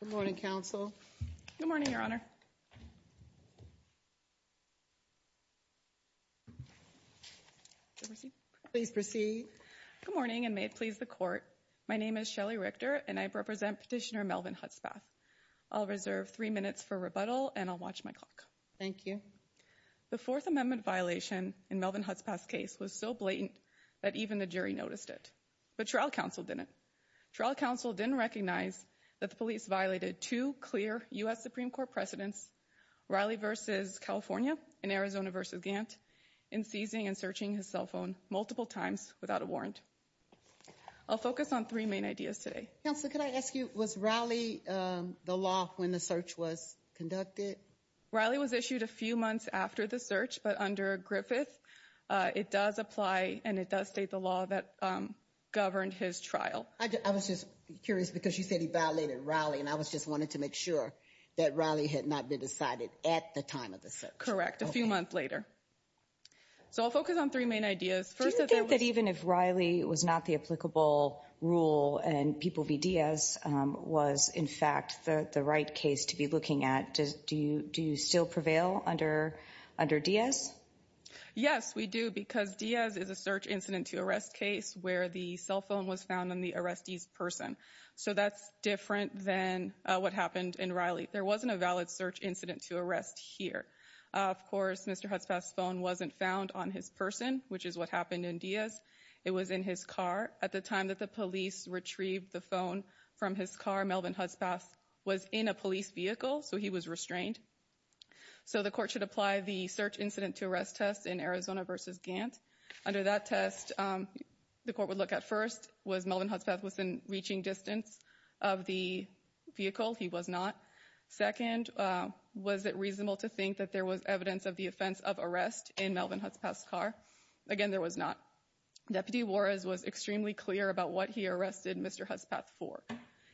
Good morning, counsel. Good morning, Your Honour. Please proceed. Good morning and may it please the court. My name is Shelly Richter and I represent Petitioner Melvin Hutspath. I'll reserve three minutes for rebuttal and I'll watch my clock. Thank you. The Fourth But trial counsel didn't. Trial counsel didn't recognize that the police violated two clear U.S. Supreme Court precedents, Riley v. California and Arizona v. Gantt, in seizing and searching his cell phone multiple times without a warrant. I'll focus on three main ideas today. Counsel, could I ask you, was Riley the law when the search was conducted? Riley was issued a few months after Gantt governed his trial. I was just curious because you said he violated Riley, and I just wanted to make sure that Riley had not been decided at the time of the search. Correct. A few months later. So I'll focus on three main ideas. Do you think that even if Riley was not the applicable rule and people v. Diaz was in fact the right case to be looking at, do you still prevail under Diaz? Yes, we do because Diaz is a search incident to arrest case where the cell phone was found on the arrestee's person. So that's different than what happened in Riley. There wasn't a valid search incident to arrest here. Of course, Mr. Hudspeth's phone wasn't found on his person, which is what happened in Diaz. It was in his car. At the time that the police retrieved the phone from his car, Melvin Hudspeth was in a police vehicle, so he was restrained. So the court should apply the search incident to arrest test in Arizona v. Gantt. Under that test, the court would look at first was Melvin Hudspeth was in reaching distance of the vehicle. He was not. Second, was it reasonable to think that there was evidence of the offense of arrest in Melvin Hudspeth's car? Again, there was not. Deputy Juarez was extremely clear about what he arrested Mr. Hudspeth for.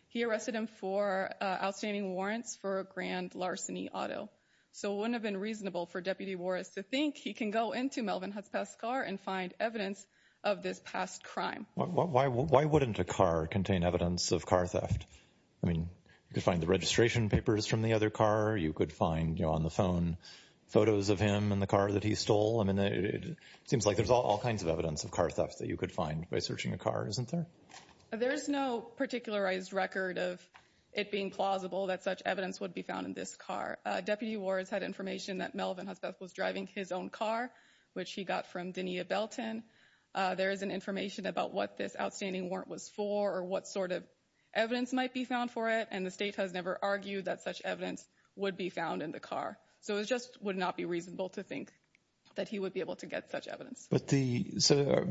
He arrested him for outstanding warrants for a grand larceny auto. So it wouldn't have been reasonable for Deputy Juarez to think he can go into Melvin Hudspeth's car and find evidence of this past crime. Why wouldn't a car contain evidence of car theft? I mean, you could find the registration papers from the other car. You could find on the phone photos of him and the car that he stole. I mean, it seems like there's all kinds of evidence of car theft that you could find by searching a car, isn't there? There's no particularized record of it being plausible that such evidence would be found in this car. Deputy Juarez had information that Melvin Hudspeth was driving his own car, which he got from Denia Belton. There isn't information about what this outstanding warrant was for or what sort of evidence might be found for it. And the state has never argued that such evidence would be found in the car. So it just would not be reasonable to think that he would be able to get such evidence. But the so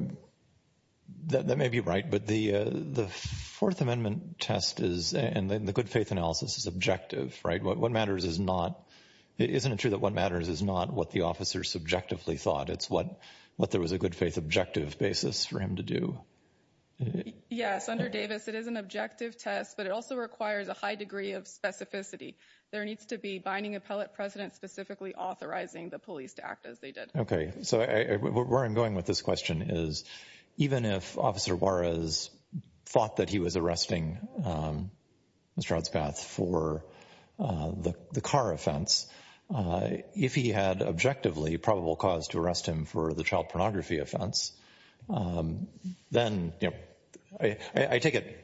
that may be right. But the the Fourth Amendment test is and the good faith analysis is objective, right? What matters is not. Isn't it true that what matters is not what the officers subjectively thought? It's what what there was a good faith objective basis for him to do. Yes, under Davis, it is an objective test, but it also requires a high degree of specificity. There needs to be binding appellate precedent specifically authorizing the police to act as they did. OK, so where I'm going with this question is even if Officer Juarez thought that he was arresting Mr. Hudspeth for the car offense, if he had objectively probable cause to arrest him for the child pornography offense, then, you know, I take it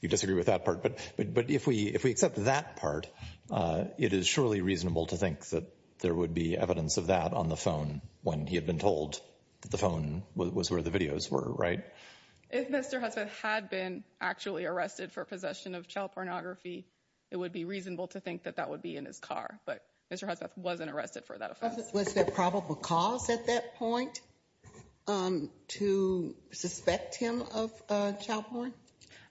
you disagree with that part. But but if we if we accept that part, it is surely reasonable to think that there would be evidence of that on the phone when he had been told the phone was where the videos were, right? If Mr. Hudspeth had been actually arrested for possession of child pornography, it would be reasonable to think that that would be in his car. But Mr. Hudspeth wasn't arrested for that offense. Was there probable cause at that point to suspect him of child porn?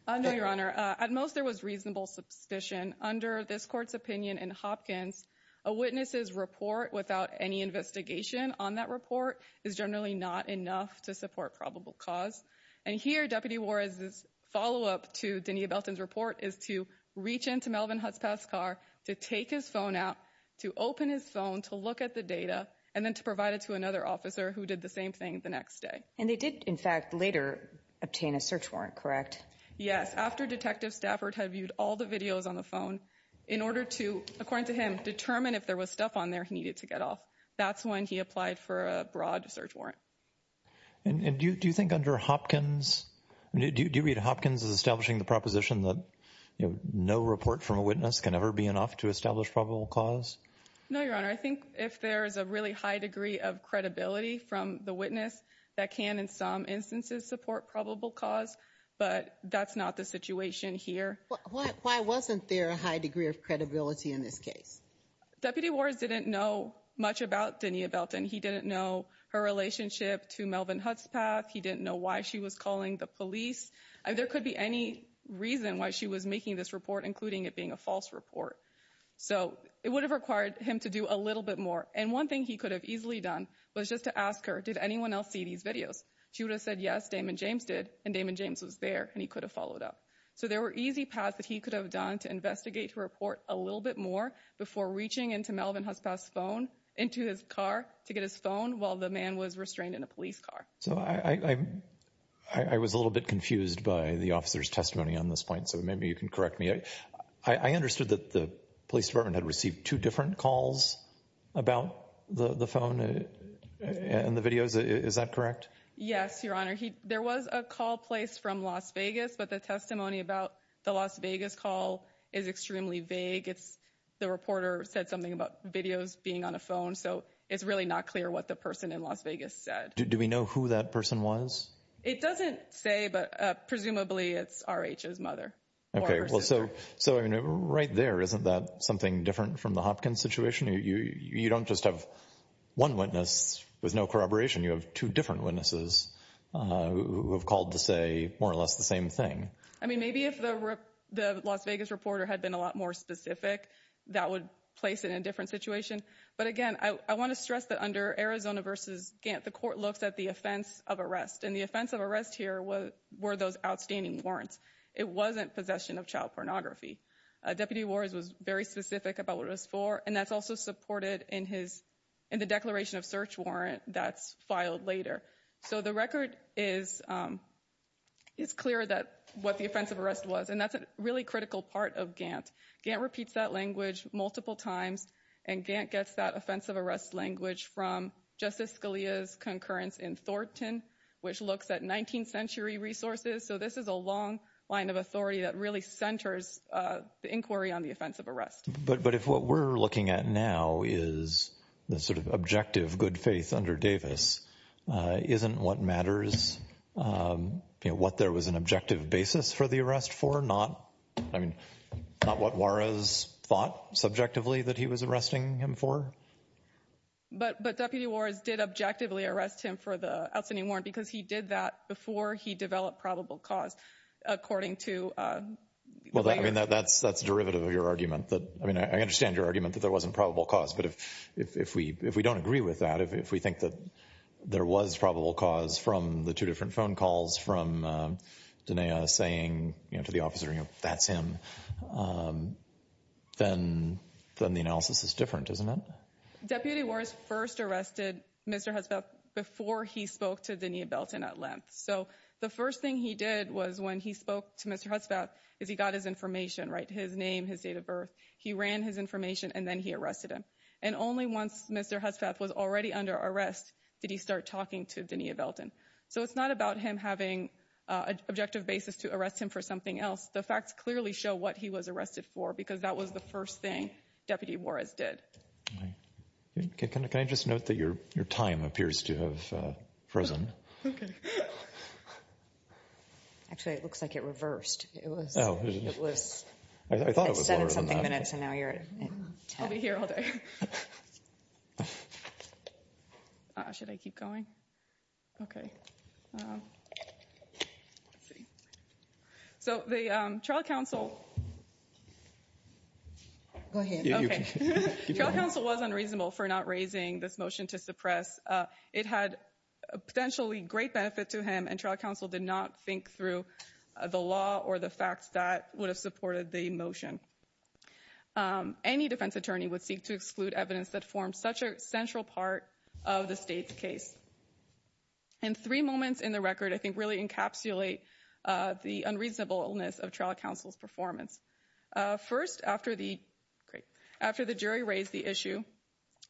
No, Your Honor. At most, there was reasonable substition under this court's opinion in Hopkins. A witness's report without any investigation on that report is generally not enough to support probable cause. And here, Deputy Juarez's follow up to Denia Belton's report is to reach into Melvin Hudspeth's car to take his phone out, to open his phone to look at the data and then to provide it to another officer who did the same thing the next day. And they did, in fact, later obtain a search warrant, correct? Yes. After Detective Stafford had viewed all the videos on the phone in order to, according to him, determine if there was stuff on there he needed to get off. That's when he applied for a broad search warrant. And do you think under Hopkins, do you read Hopkins as establishing the proposition that no report from a witness can ever be enough to establish probable cause? No, Your Honor. I think if there is a really high degree of credibility from the witness that can, in some instances, support probable cause. But that's not the situation here. Why wasn't there a high degree of credibility in this case? Deputy Juarez didn't know much about Denia Belton. He didn't know her relationship to Melvin Hudspeth. He didn't know why she was calling the police. There could be any reason why she was making this report, including it being a false report. So it would have required him to do a little bit more. And one thing he could have easily done was just to ask her, did anyone else see these videos? She would have said, yes, Damon James did. And Damon James was there and he could have followed up. So there were easy paths that he could have done to investigate, to report a little bit more before reaching into Melvin Hudspeth's phone, into his car to get his phone while the man was restrained in a police car. So I was a little bit confused by the officer's testimony on this point. So maybe you can correct me. I understood that the police department had received two different calls about the phone and the videos. Is that correct? Yes, Your Honor. There was a call placed from Las Vegas, but the testimony about the Las Vegas call is extremely vague. It's the reporter said something about videos being on a phone. So it's really not clear what the person in Las Vegas said. Do we know who that person was? It doesn't say, but presumably it's R.H.'s mother. Okay. Well, so right there, isn't that something different from the Hopkins situation? You don't just have one witness with no corroboration. You have two different witnesses who have called to say more or less the same thing. I mean, maybe if the Las Vegas reporter had been a lot more specific, that would place it in a different situation. But again, I want to stress that under Arizona versus Gantt, the court looks at the offense of arrest and the offense of arrest here were those outstanding warrants. It wasn't possession of child pornography. Deputy Wars was very specific about what it was for, and that's also supported in the declaration of search warrant that's filed later. So the record is clear that what the offense of arrest was, and that's a really critical part of Gantt. Gantt repeats that language multiple times, and Gantt gets that offense of arrest language from Justice Scalia's concurrence in Thornton, which looks at 19th century resources. So this is a long line of authority that really centers the inquiry on the offense of arrest. But if what we're looking at now is the sort of objective good faith under Davis, isn't what matters, what there was an objective basis for the arrest for not, I mean, not what Juarez thought subjectively that he was arresting him for. But Deputy Wars did objectively arrest him for the outstanding warrant because he did that he developed probable cause, according to. Well, I mean, that's that's derivative of your argument that I mean, I understand your argument that there wasn't probable cause. But if if we if we don't agree with that, if we think that there was probable cause from the two different phone calls from Danea saying to the officer, you know, that's him, then then the analysis is different, isn't it? Deputy Wars first arrested Mr. Hesbeth before he spoke to at length. So the first thing he did was when he spoke to Mr. Hesbeth is he got his information, right, his name, his date of birth. He ran his information and then he arrested him. And only once Mr. Hesbeth was already under arrest, did he start talking to Danea Belton. So it's not about him having an objective basis to arrest him for something else. The facts clearly show what he was arrested for, because that was the first thing Deputy Wars did. Can I just note that your your time appears to have frozen? Actually, it looks like it reversed. It was. Oh, it was. I thought it was seven something minutes. And now you're here all day. Should I keep going? Okay. So the trial counsel. Go ahead. The trial counsel was unreasonable for not raising this motion to suppress. It had a potentially great benefit to him and trial counsel did not think through the law or the facts that would have supported the motion. Any defense attorney would seek to exclude evidence that forms such a central part of the state's case. And three moments in the First, after the great after the jury raised the issue,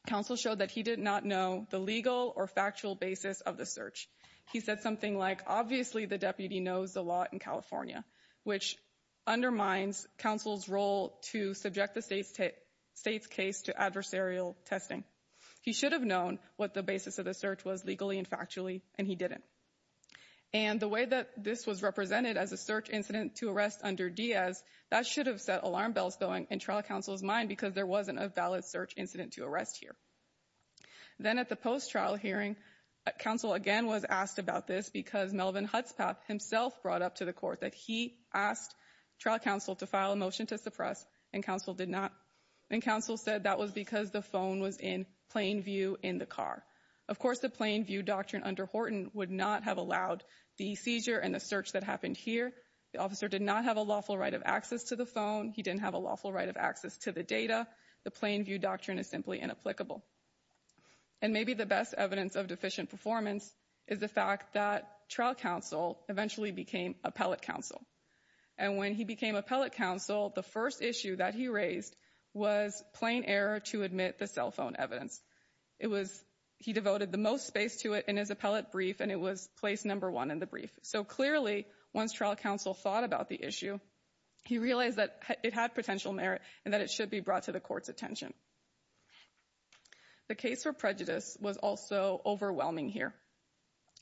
counsel showed that he did not know the legal or factual basis of the search. He said something like, obviously, the deputy knows a lot in California, which undermines counsel's role to subject the state's state's case to adversarial testing. He should have known what the basis of the search was legally and factually, and he didn't. And the way that this was represented as a search incident to arrest under Diaz, that should have set alarm bells going in trial counsel's mind because there wasn't a valid search incident to arrest here. Then at the post trial hearing, counsel again was asked about this because Melvin Hudson himself brought up to the court that he asked trial counsel to file a motion to suppress and counsel did not. And counsel said that was because the phone was in plain view in the car. Of course, the plain view doctrine under Horton would not have allowed the seizure and the search that happened here. The officer did not have a lawful right of access to the phone. He didn't have a lawful right of access to the data. The plain view doctrine is simply inapplicable. And maybe the best evidence of deficient performance is the fact that trial counsel eventually became appellate counsel. And when he became appellate counsel, the first issue that he raised was plain error to admit the cell phone evidence. He devoted the most space to it in his appellate brief, and it was placed number one in the brief. So clearly, once trial counsel thought about the issue, he realized that it had potential merit and that it should be brought to the court's attention. The case for prejudice was also overwhelming here.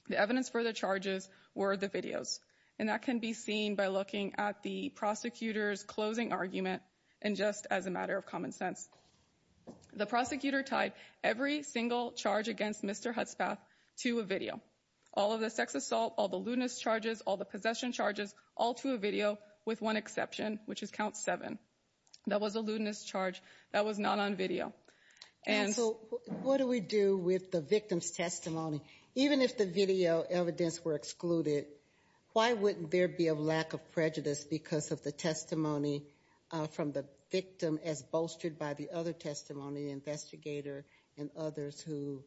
The evidence for the charges were the videos, and that can be seen by looking at the prosecutor's closing argument and just as a matter of common sense. The prosecutor tied every single charge against Mr. Hutzpath to a video. All of the sex assault, all the lewdness charges, all the possession charges, all to a video with one exception, which is count seven. That was a lewdness charge that was not on video. And so what do we do with the victim's testimony? Even if the video evidence were excluded, why wouldn't there be a lack of prejudice because of the testimony from the victim as bolstered by the other testimony investigator and others who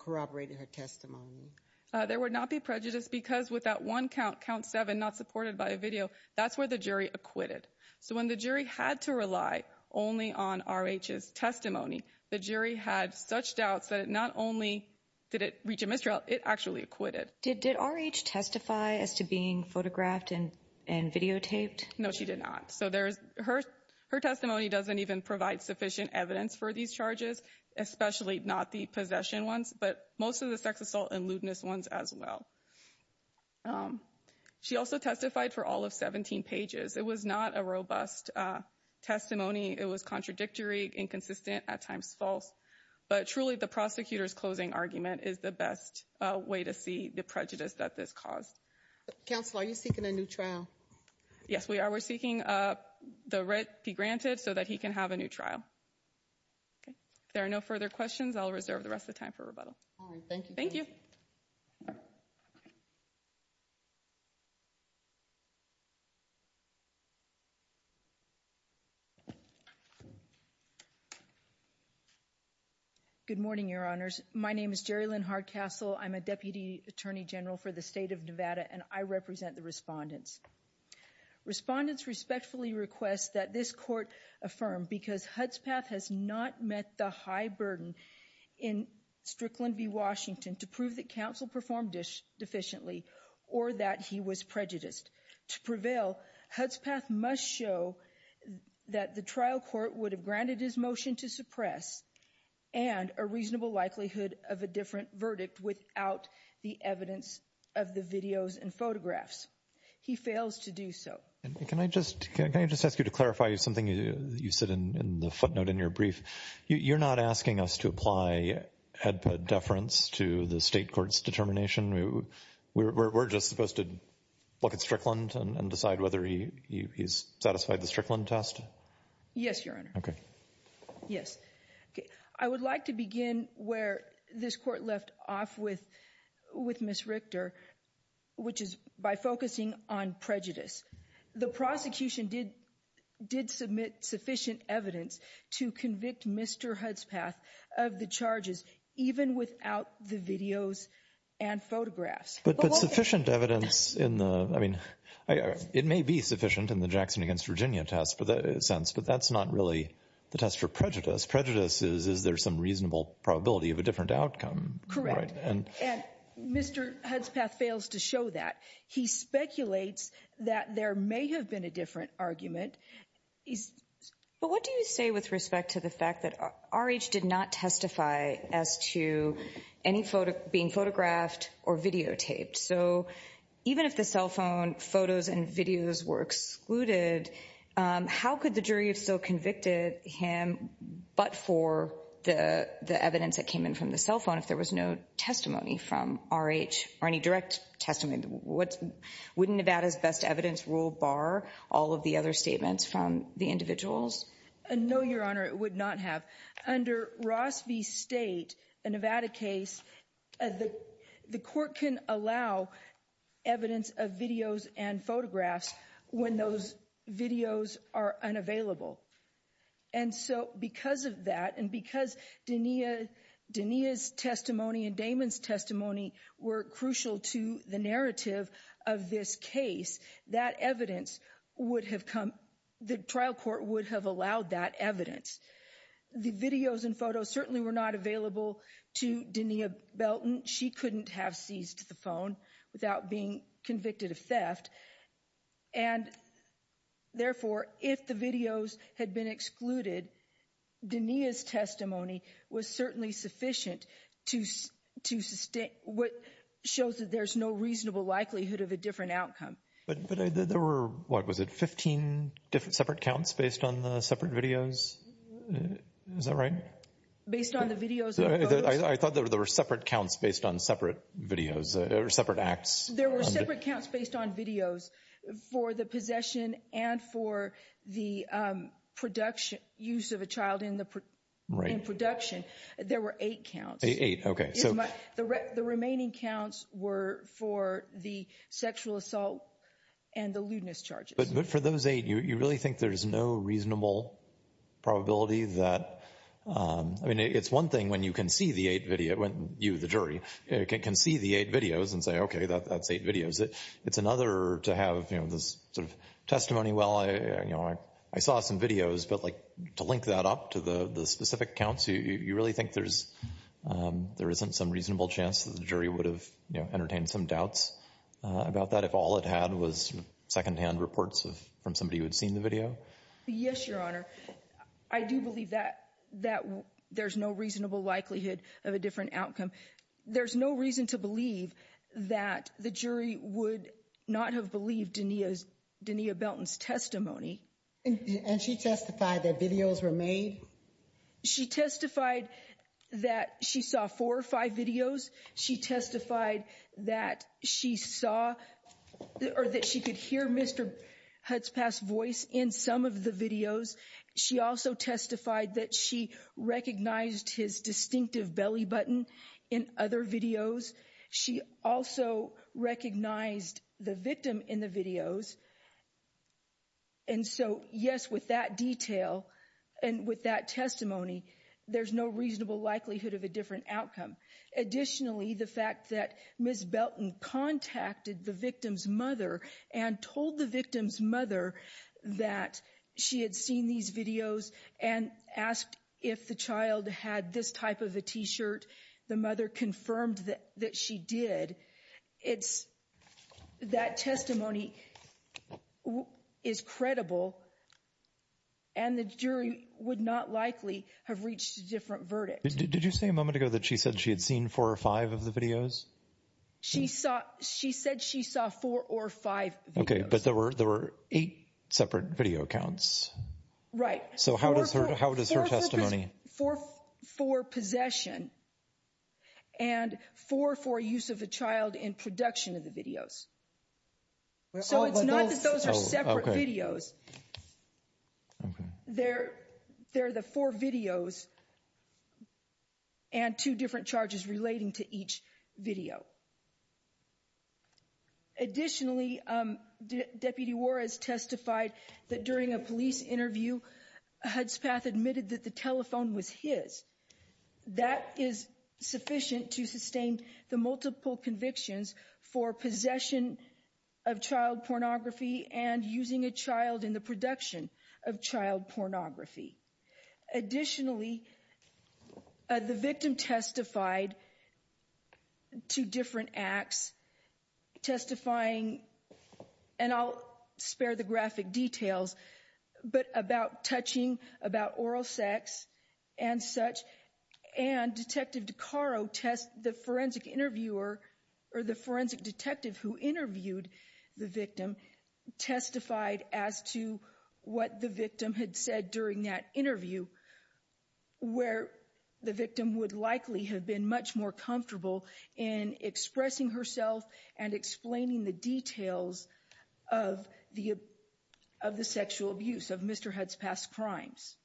corroborated her testimony? There would not be prejudice because with that one count, count seven, not supported by a video, that's where the jury acquitted. So when the jury had to rely only on R.H.'s testimony, the jury had such doubts that it not only did it reach a mistrial, it actually acquitted. Did R.H. testify as to being photographed and videotaped? No, she did not. Her testimony doesn't even provide sufficient evidence for these charges, especially not the possession ones, but most of the sex assault and lewdness ones as well. She also testified for all of 17 pages. It was not a robust testimony. It was contradictory, inconsistent, at times false. But truly, the prosecutor's closing argument is the best way to see the prejudice that this caused. Counsel, are you seeking a new trial? Yes, we are. We're seeking the writ be granted so that he can have a new trial. Okay, if there are no further questions, I'll reserve the rest of the time for rebuttal. All right, thank you. Thank you. Good morning, Your Honors. My name is Jerry Lynn Hardcastle. I'm a Deputy Attorney General for the State of Nevada, and I represent the respondents. Respondents respectfully request that this court affirm because Hudspeth has not met the high burden in Strickland v. Washington to prove that counsel performed deficiently or that he was prejudiced. To prevail, Hudspeth must show that the trial court would have granted his motion to suppress and a reasonable likelihood of a different verdict without the evidence of the videos and photographs. He fails to do so. Can I just ask you to clarify something you said in the footnote in your brief? You're not asking us to apply HEDPA deference to the state court's determination? We're just supposed to look at Strickland and decide whether he's satisfied the Strickland test? Yes, Your Honor. Yes. I would like to begin where this court left off with Ms. Richter, which is by focusing on prejudice. The prosecution did submit sufficient evidence to convict Mr. Hudspeth of the charges, even without the videos and photographs. But sufficient evidence in the, I mean, it may be sufficient in the Jackson v. Virginia test for that sense, but that's not really the test for prejudice. Prejudice is, is there some reasonable probability of a different that there may have been a different argument? But what do you say with respect to the fact that R.H. did not testify as to any being photographed or videotaped? So even if the cell phone photos and videos were excluded, how could the jury have still convicted him but for the evidence that came in from the cell phone if there was no R.H. or any direct testimony? Wouldn't Nevada's best evidence rule bar all of the other statements from the individuals? No, Your Honor, it would not have. Under Ross v. State, a Nevada case, the court can allow evidence of videos and photographs when those videos are unavailable. And so because of that, and because Denia's testimony and Damon's testimony were crucial to the narrative of this case, that evidence would have come, the trial court would have allowed that evidence. The videos and photos certainly were not available to Denia Belton. She couldn't have seized the phone without being convicted of theft. And therefore, if the videos had been excluded, Denia's testimony was certainly sufficient to, to sustain, what shows that there's no reasonable likelihood of a different outcome. But there were, what was it, 15 different separate counts based on the separate videos? Is that right? Based on the videos? I thought there were separate counts based on separate videos or separate acts. There were separate counts based on videos for the possession and for the production, use of a child in the production. There were eight counts. Eight, okay. The remaining counts were for the sexual assault and the lewdness charges. But for those eight, you really think there's no reasonable probability that, I mean, it's one thing when you can see the eight video, when you, the jury, can see the eight videos and say, okay, that's eight videos. It's another to have, you know, this sort of testimony, well, you know, I saw some videos, but like to link that up to the specific counts, you really think there's, there isn't some reasonable chance that the jury would have, you know, entertained some doubts about that if all it had was secondhand reports from somebody who had seen the video? Yes, Your Honor. I do believe that, that there's no reasonable likelihood of a different outcome. There's no reason to believe that the jury would not have believed Denia's, Denia Belton's testimony. And she testified that videos were made? She testified that she saw four or five videos. She testified that she saw, or that she could hear Mr. Hudspeth's voice in some of the videos. She also testified that she recognized his distinctive belly button in other videos. She also recognized the victim in the videos. And so, yes, with that detail and with that testimony, there's no reasonable likelihood of a different outcome. Additionally, the fact that Ms. Belton contacted the victim's mother and told the victim's mother that she had seen these videos and asked if the child had this type of a t-shirt, the mother confirmed that she did. It's, that testimony is credible and the jury would not likely have reached a different verdict. Did you say a moment ago that she said she had seen four or five of the videos? She saw, she said she saw four or five videos. Okay, but there were, there were eight separate video accounts. Right. So how does her, how does her testimony? Four for possession and four for use of a child in production of the videos. So it's not that those are separate videos. Okay. They're, they're the four videos and two different charges relating to each video. Additionally, Deputy Juarez testified that during a police interview, Hudspeth admitted that the telephone was his. That is sufficient to sustain the multiple convictions for possession of child pornography and using a child in the production of child pornography. Additionally, the victim testified to different acts testifying, and I'll spare the graphic details, but about touching, about oral sex and such. And Detective DeCaro test, the forensic interviewer or the forensic detective who interviewed the victim testified as to what the victim had said during that interview, where the victim would likely have been much more comfortable in expressing herself and explaining the details of the, of the sexual abuse of Mr. Hudspeth's crimes.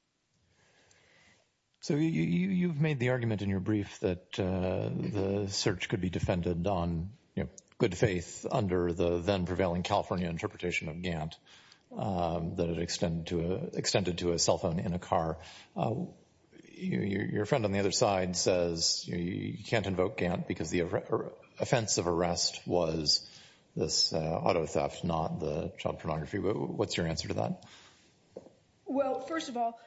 So you, you, you've made the argument in your brief that the search could be defended on, you know, good faith under the then prevailing California interpretation of Gantt, that it extended to a, extended to a cell phone in a car. Your friend on the other side says you can't invoke Gantt because the offense of arrest was this auto theft, not the child pornography. What's your answer to that? Well, first of all,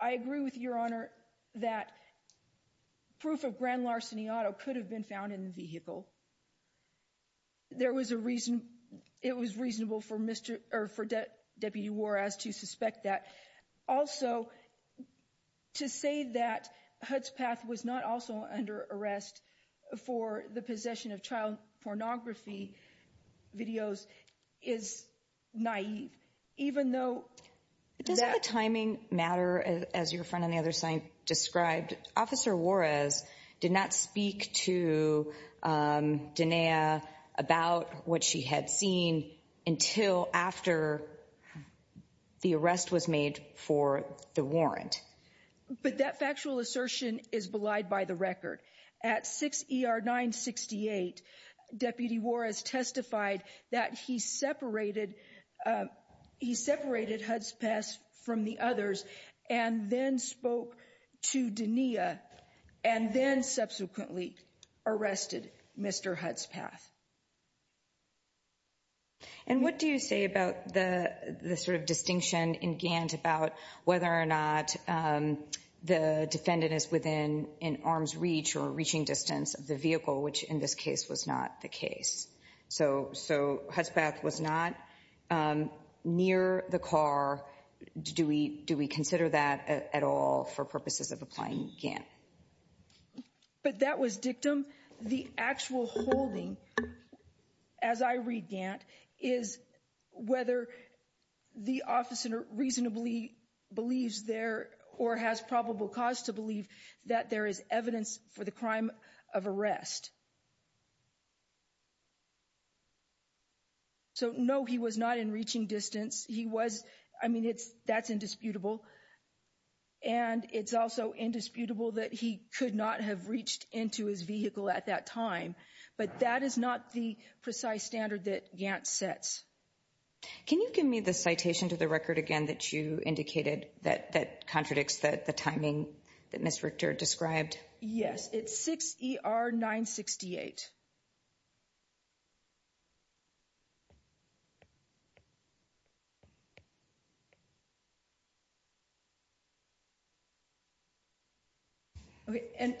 I agree with your honor that proof of grand larceny auto could have been found in the vehicle. There was a reason, it was reasonable for Mr., or for Deputy Juarez to suspect that. Also, to say that Hudspeth was not also under arrest for the possession of child pornography videos is naive, even though. Does that timing matter as your friend on the other side described? Officer Juarez did not speak to Dinea about what she had seen until after the arrest was made for the warrant. But that factual assertion is belied by the record. At 6 ER 968, Deputy Juarez testified that he separated, he separated Hudspeth from the others and then spoke to Dinea and then subsequently arrested Mr. Hudspeth. And what do you say about the, the sort of distinction in Gantt about whether or not the defendant is within an arm's reach or reaching distance of the vehicle, which in this case was not the case. So, so Hudspeth was not near the car. Do we, do we consider that at all for purposes of applying Gantt? But that was dictum. The actual holding, as I read Gantt, is whether the officer reasonably believes there or has probable cause to believe that there is evidence for the crime of arrest. So no, he was not in reaching distance. He was, I mean, it's, that's indisputable. And it's also indisputable that he could not have reached into his vehicle at that time. But that is not the precise standard that Gantt sets. Can you give me the citation to the record again that you indicated that, that contradicts the timing that Ms. Richter described? Yes, it's 6 ER 968. Okay, and,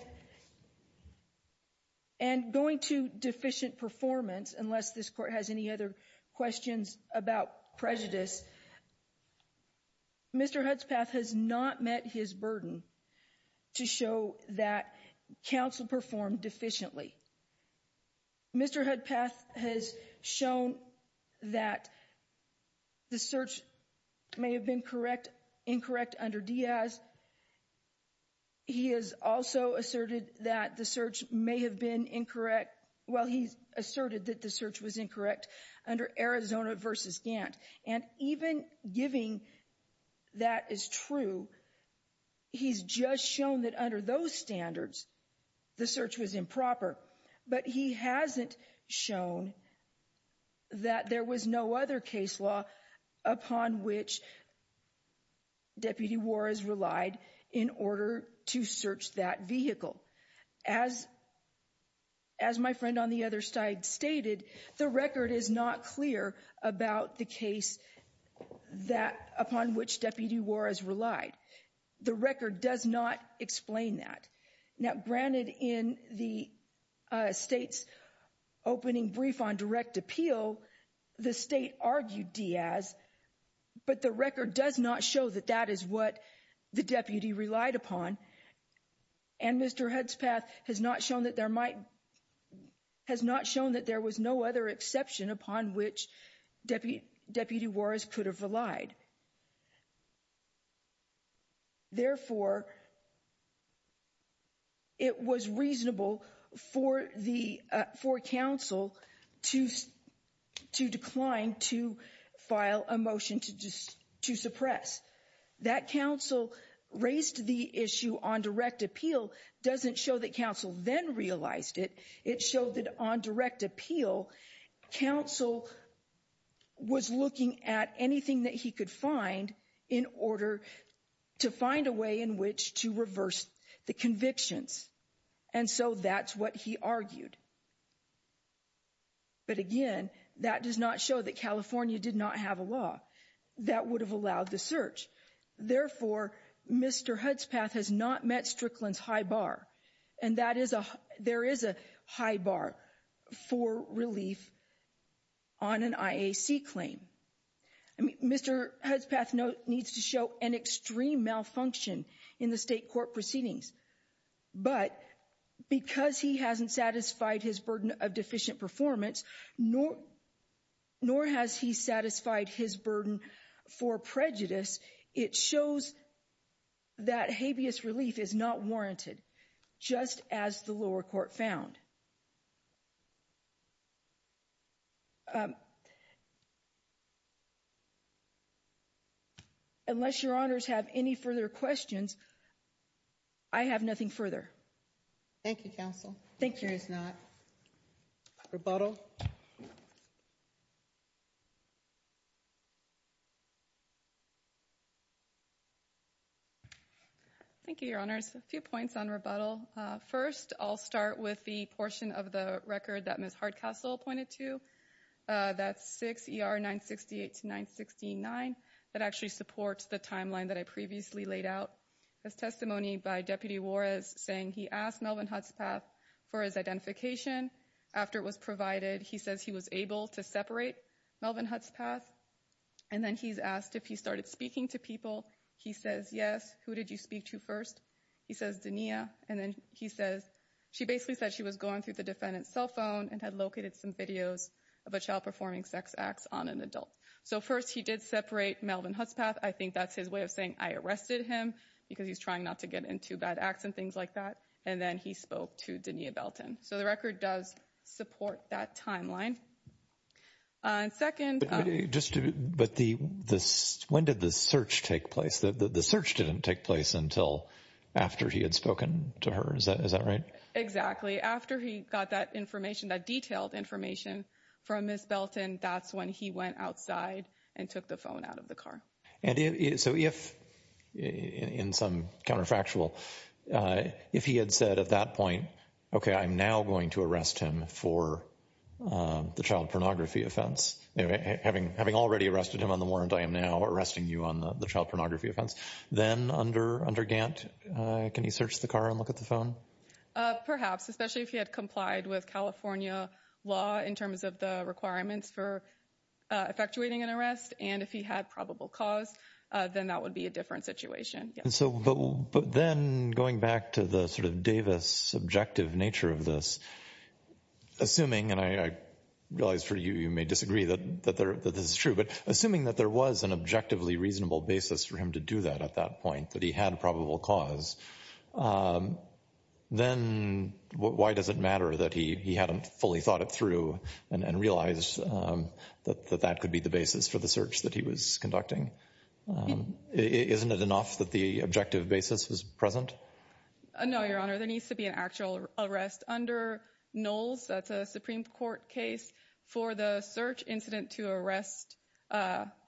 and going to deficient performance, unless this court has any other questions about prejudice, Mr. Hudspeth has not met his burden to show that counsel performed deficiently. Mr. Hudspeth has shown that the search may have been correct, incorrect under Diaz. He has also asserted that the search may have been incorrect. Well, he asserted that the search was incorrect under Arizona versus Gantt. And even giving that is true, he's just shown that under those standards, the search was improper. But he hasn't shown that there was no other case law upon which Deputy Juarez relied in order to search that vehicle. As, as my friend on the other side stated, the record is not clear about the case that upon which Deputy Juarez relied. The record does not explain that. Now, granted in the state's opening brief on direct appeal, the state argued Diaz, but the record does not show that that is what the deputy relied upon. And Mr. Hudspeth has not shown that there might, has not shown that there was no other exception upon which Deputy Juarez could have relied. Therefore, it was reasonable for the, for counsel to, to decline to file a motion to just, to suppress. That counsel raised the issue on direct appeal doesn't show that counsel then realized it. It showed that on direct appeal, counsel was looking at anything that he could do. In order to find a way in which to reverse the convictions. And so that's what he argued. But again, that does not show that California did not have a law that would have allowed the search. Therefore, Mr. Hudspeth has not met Strickland's high bar. And that is a, there is a high bar for relief on an IAC claim. I mean, Mr. Hudspeth needs to show an extreme malfunction in the state court proceedings. But because he hasn't satisfied his burden of deficient performance, nor has he satisfied his burden for prejudice, it shows that habeas relief is not warranted. Just as the lower court found. Unless your honors have any further questions. I have nothing further. Thank you, counsel. Thank you. Rebuttal. Thank you, your honors. A few points on rebuttal. First, I'll start with the portion of the record that Ms. Hardcastle pointed to. That's 6 ER 968 to 969. That actually supports the timeline that I previously laid out. His testimony by Deputy Juarez saying he asked Melvin Hudspeth for his identification. After it was provided, he says he was able to separate Melvin Hudspeth. And then he's asked if he started speaking to people. He says, yes. Who did you speak to first? He says, Denia. And then he says, she basically said she was going through the defendant's cell phone and had located some videos of a child performing sex acts on an adult. So first, he did separate Melvin Hudspeth. I think that's his way of saying I arrested him because he's trying not to get into bad acts and things like that. And then he spoke to Denia Belton. So the record does support that timeline. And second. But when did the search take place? The search didn't take place until after he had spoken to her. Is that right? Exactly. After he got that information, that detailed information from Miss Belton, that's when he went outside and took the phone out of the car. And so if in some counterfactual, if he had said at that point, OK, I'm now going to arrest him for the child pornography offense, having having already arrested him on the warrant, I am now arresting you on the child pornography offense. Then under under Gant, can he search the car and look at the phone? Perhaps, especially if he had complied with California law in terms of the requirements for effectuating an arrest. And if he had probable cause, then that would be a different situation. And so but then going back to the sort of Davis subjective nature of this, assuming and I realize for you, you may disagree that that this is true, but assuming that there was an objectively reasonable basis for him to do that at that point, that he had a probable cause, then why does it matter that he hadn't fully thought it through and realize that that could be the basis for the search that he was conducting? Isn't it enough that the objective basis was present? No, your honor, there needs to be an actual arrest under Knowles. That's a Supreme Court case for the search incident to arrest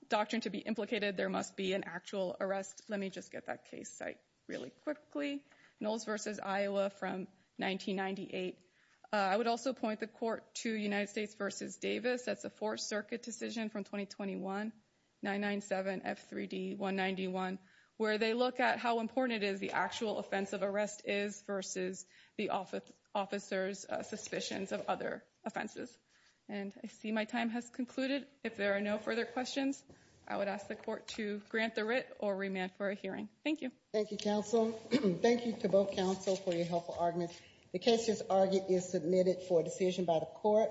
doctrine to be implicated. There must be an actual arrest. Let me just get that case site. Quickly, Knowles versus Iowa from 1998. I would also point the court to United States versus Davis. That's a Fourth Circuit decision from twenty twenty one nine nine seven F3D one ninety one where they look at how important it is. The actual offense of arrest is versus the office officers suspicions of other offenses. And I see my time has concluded. If there are no further questions, I would ask the court to grant the writ or remand for a hearing. Thank you. Thank you, counsel. Thank you to both counsel for your helpful arguments. The case is argued is submitted for decision by the court.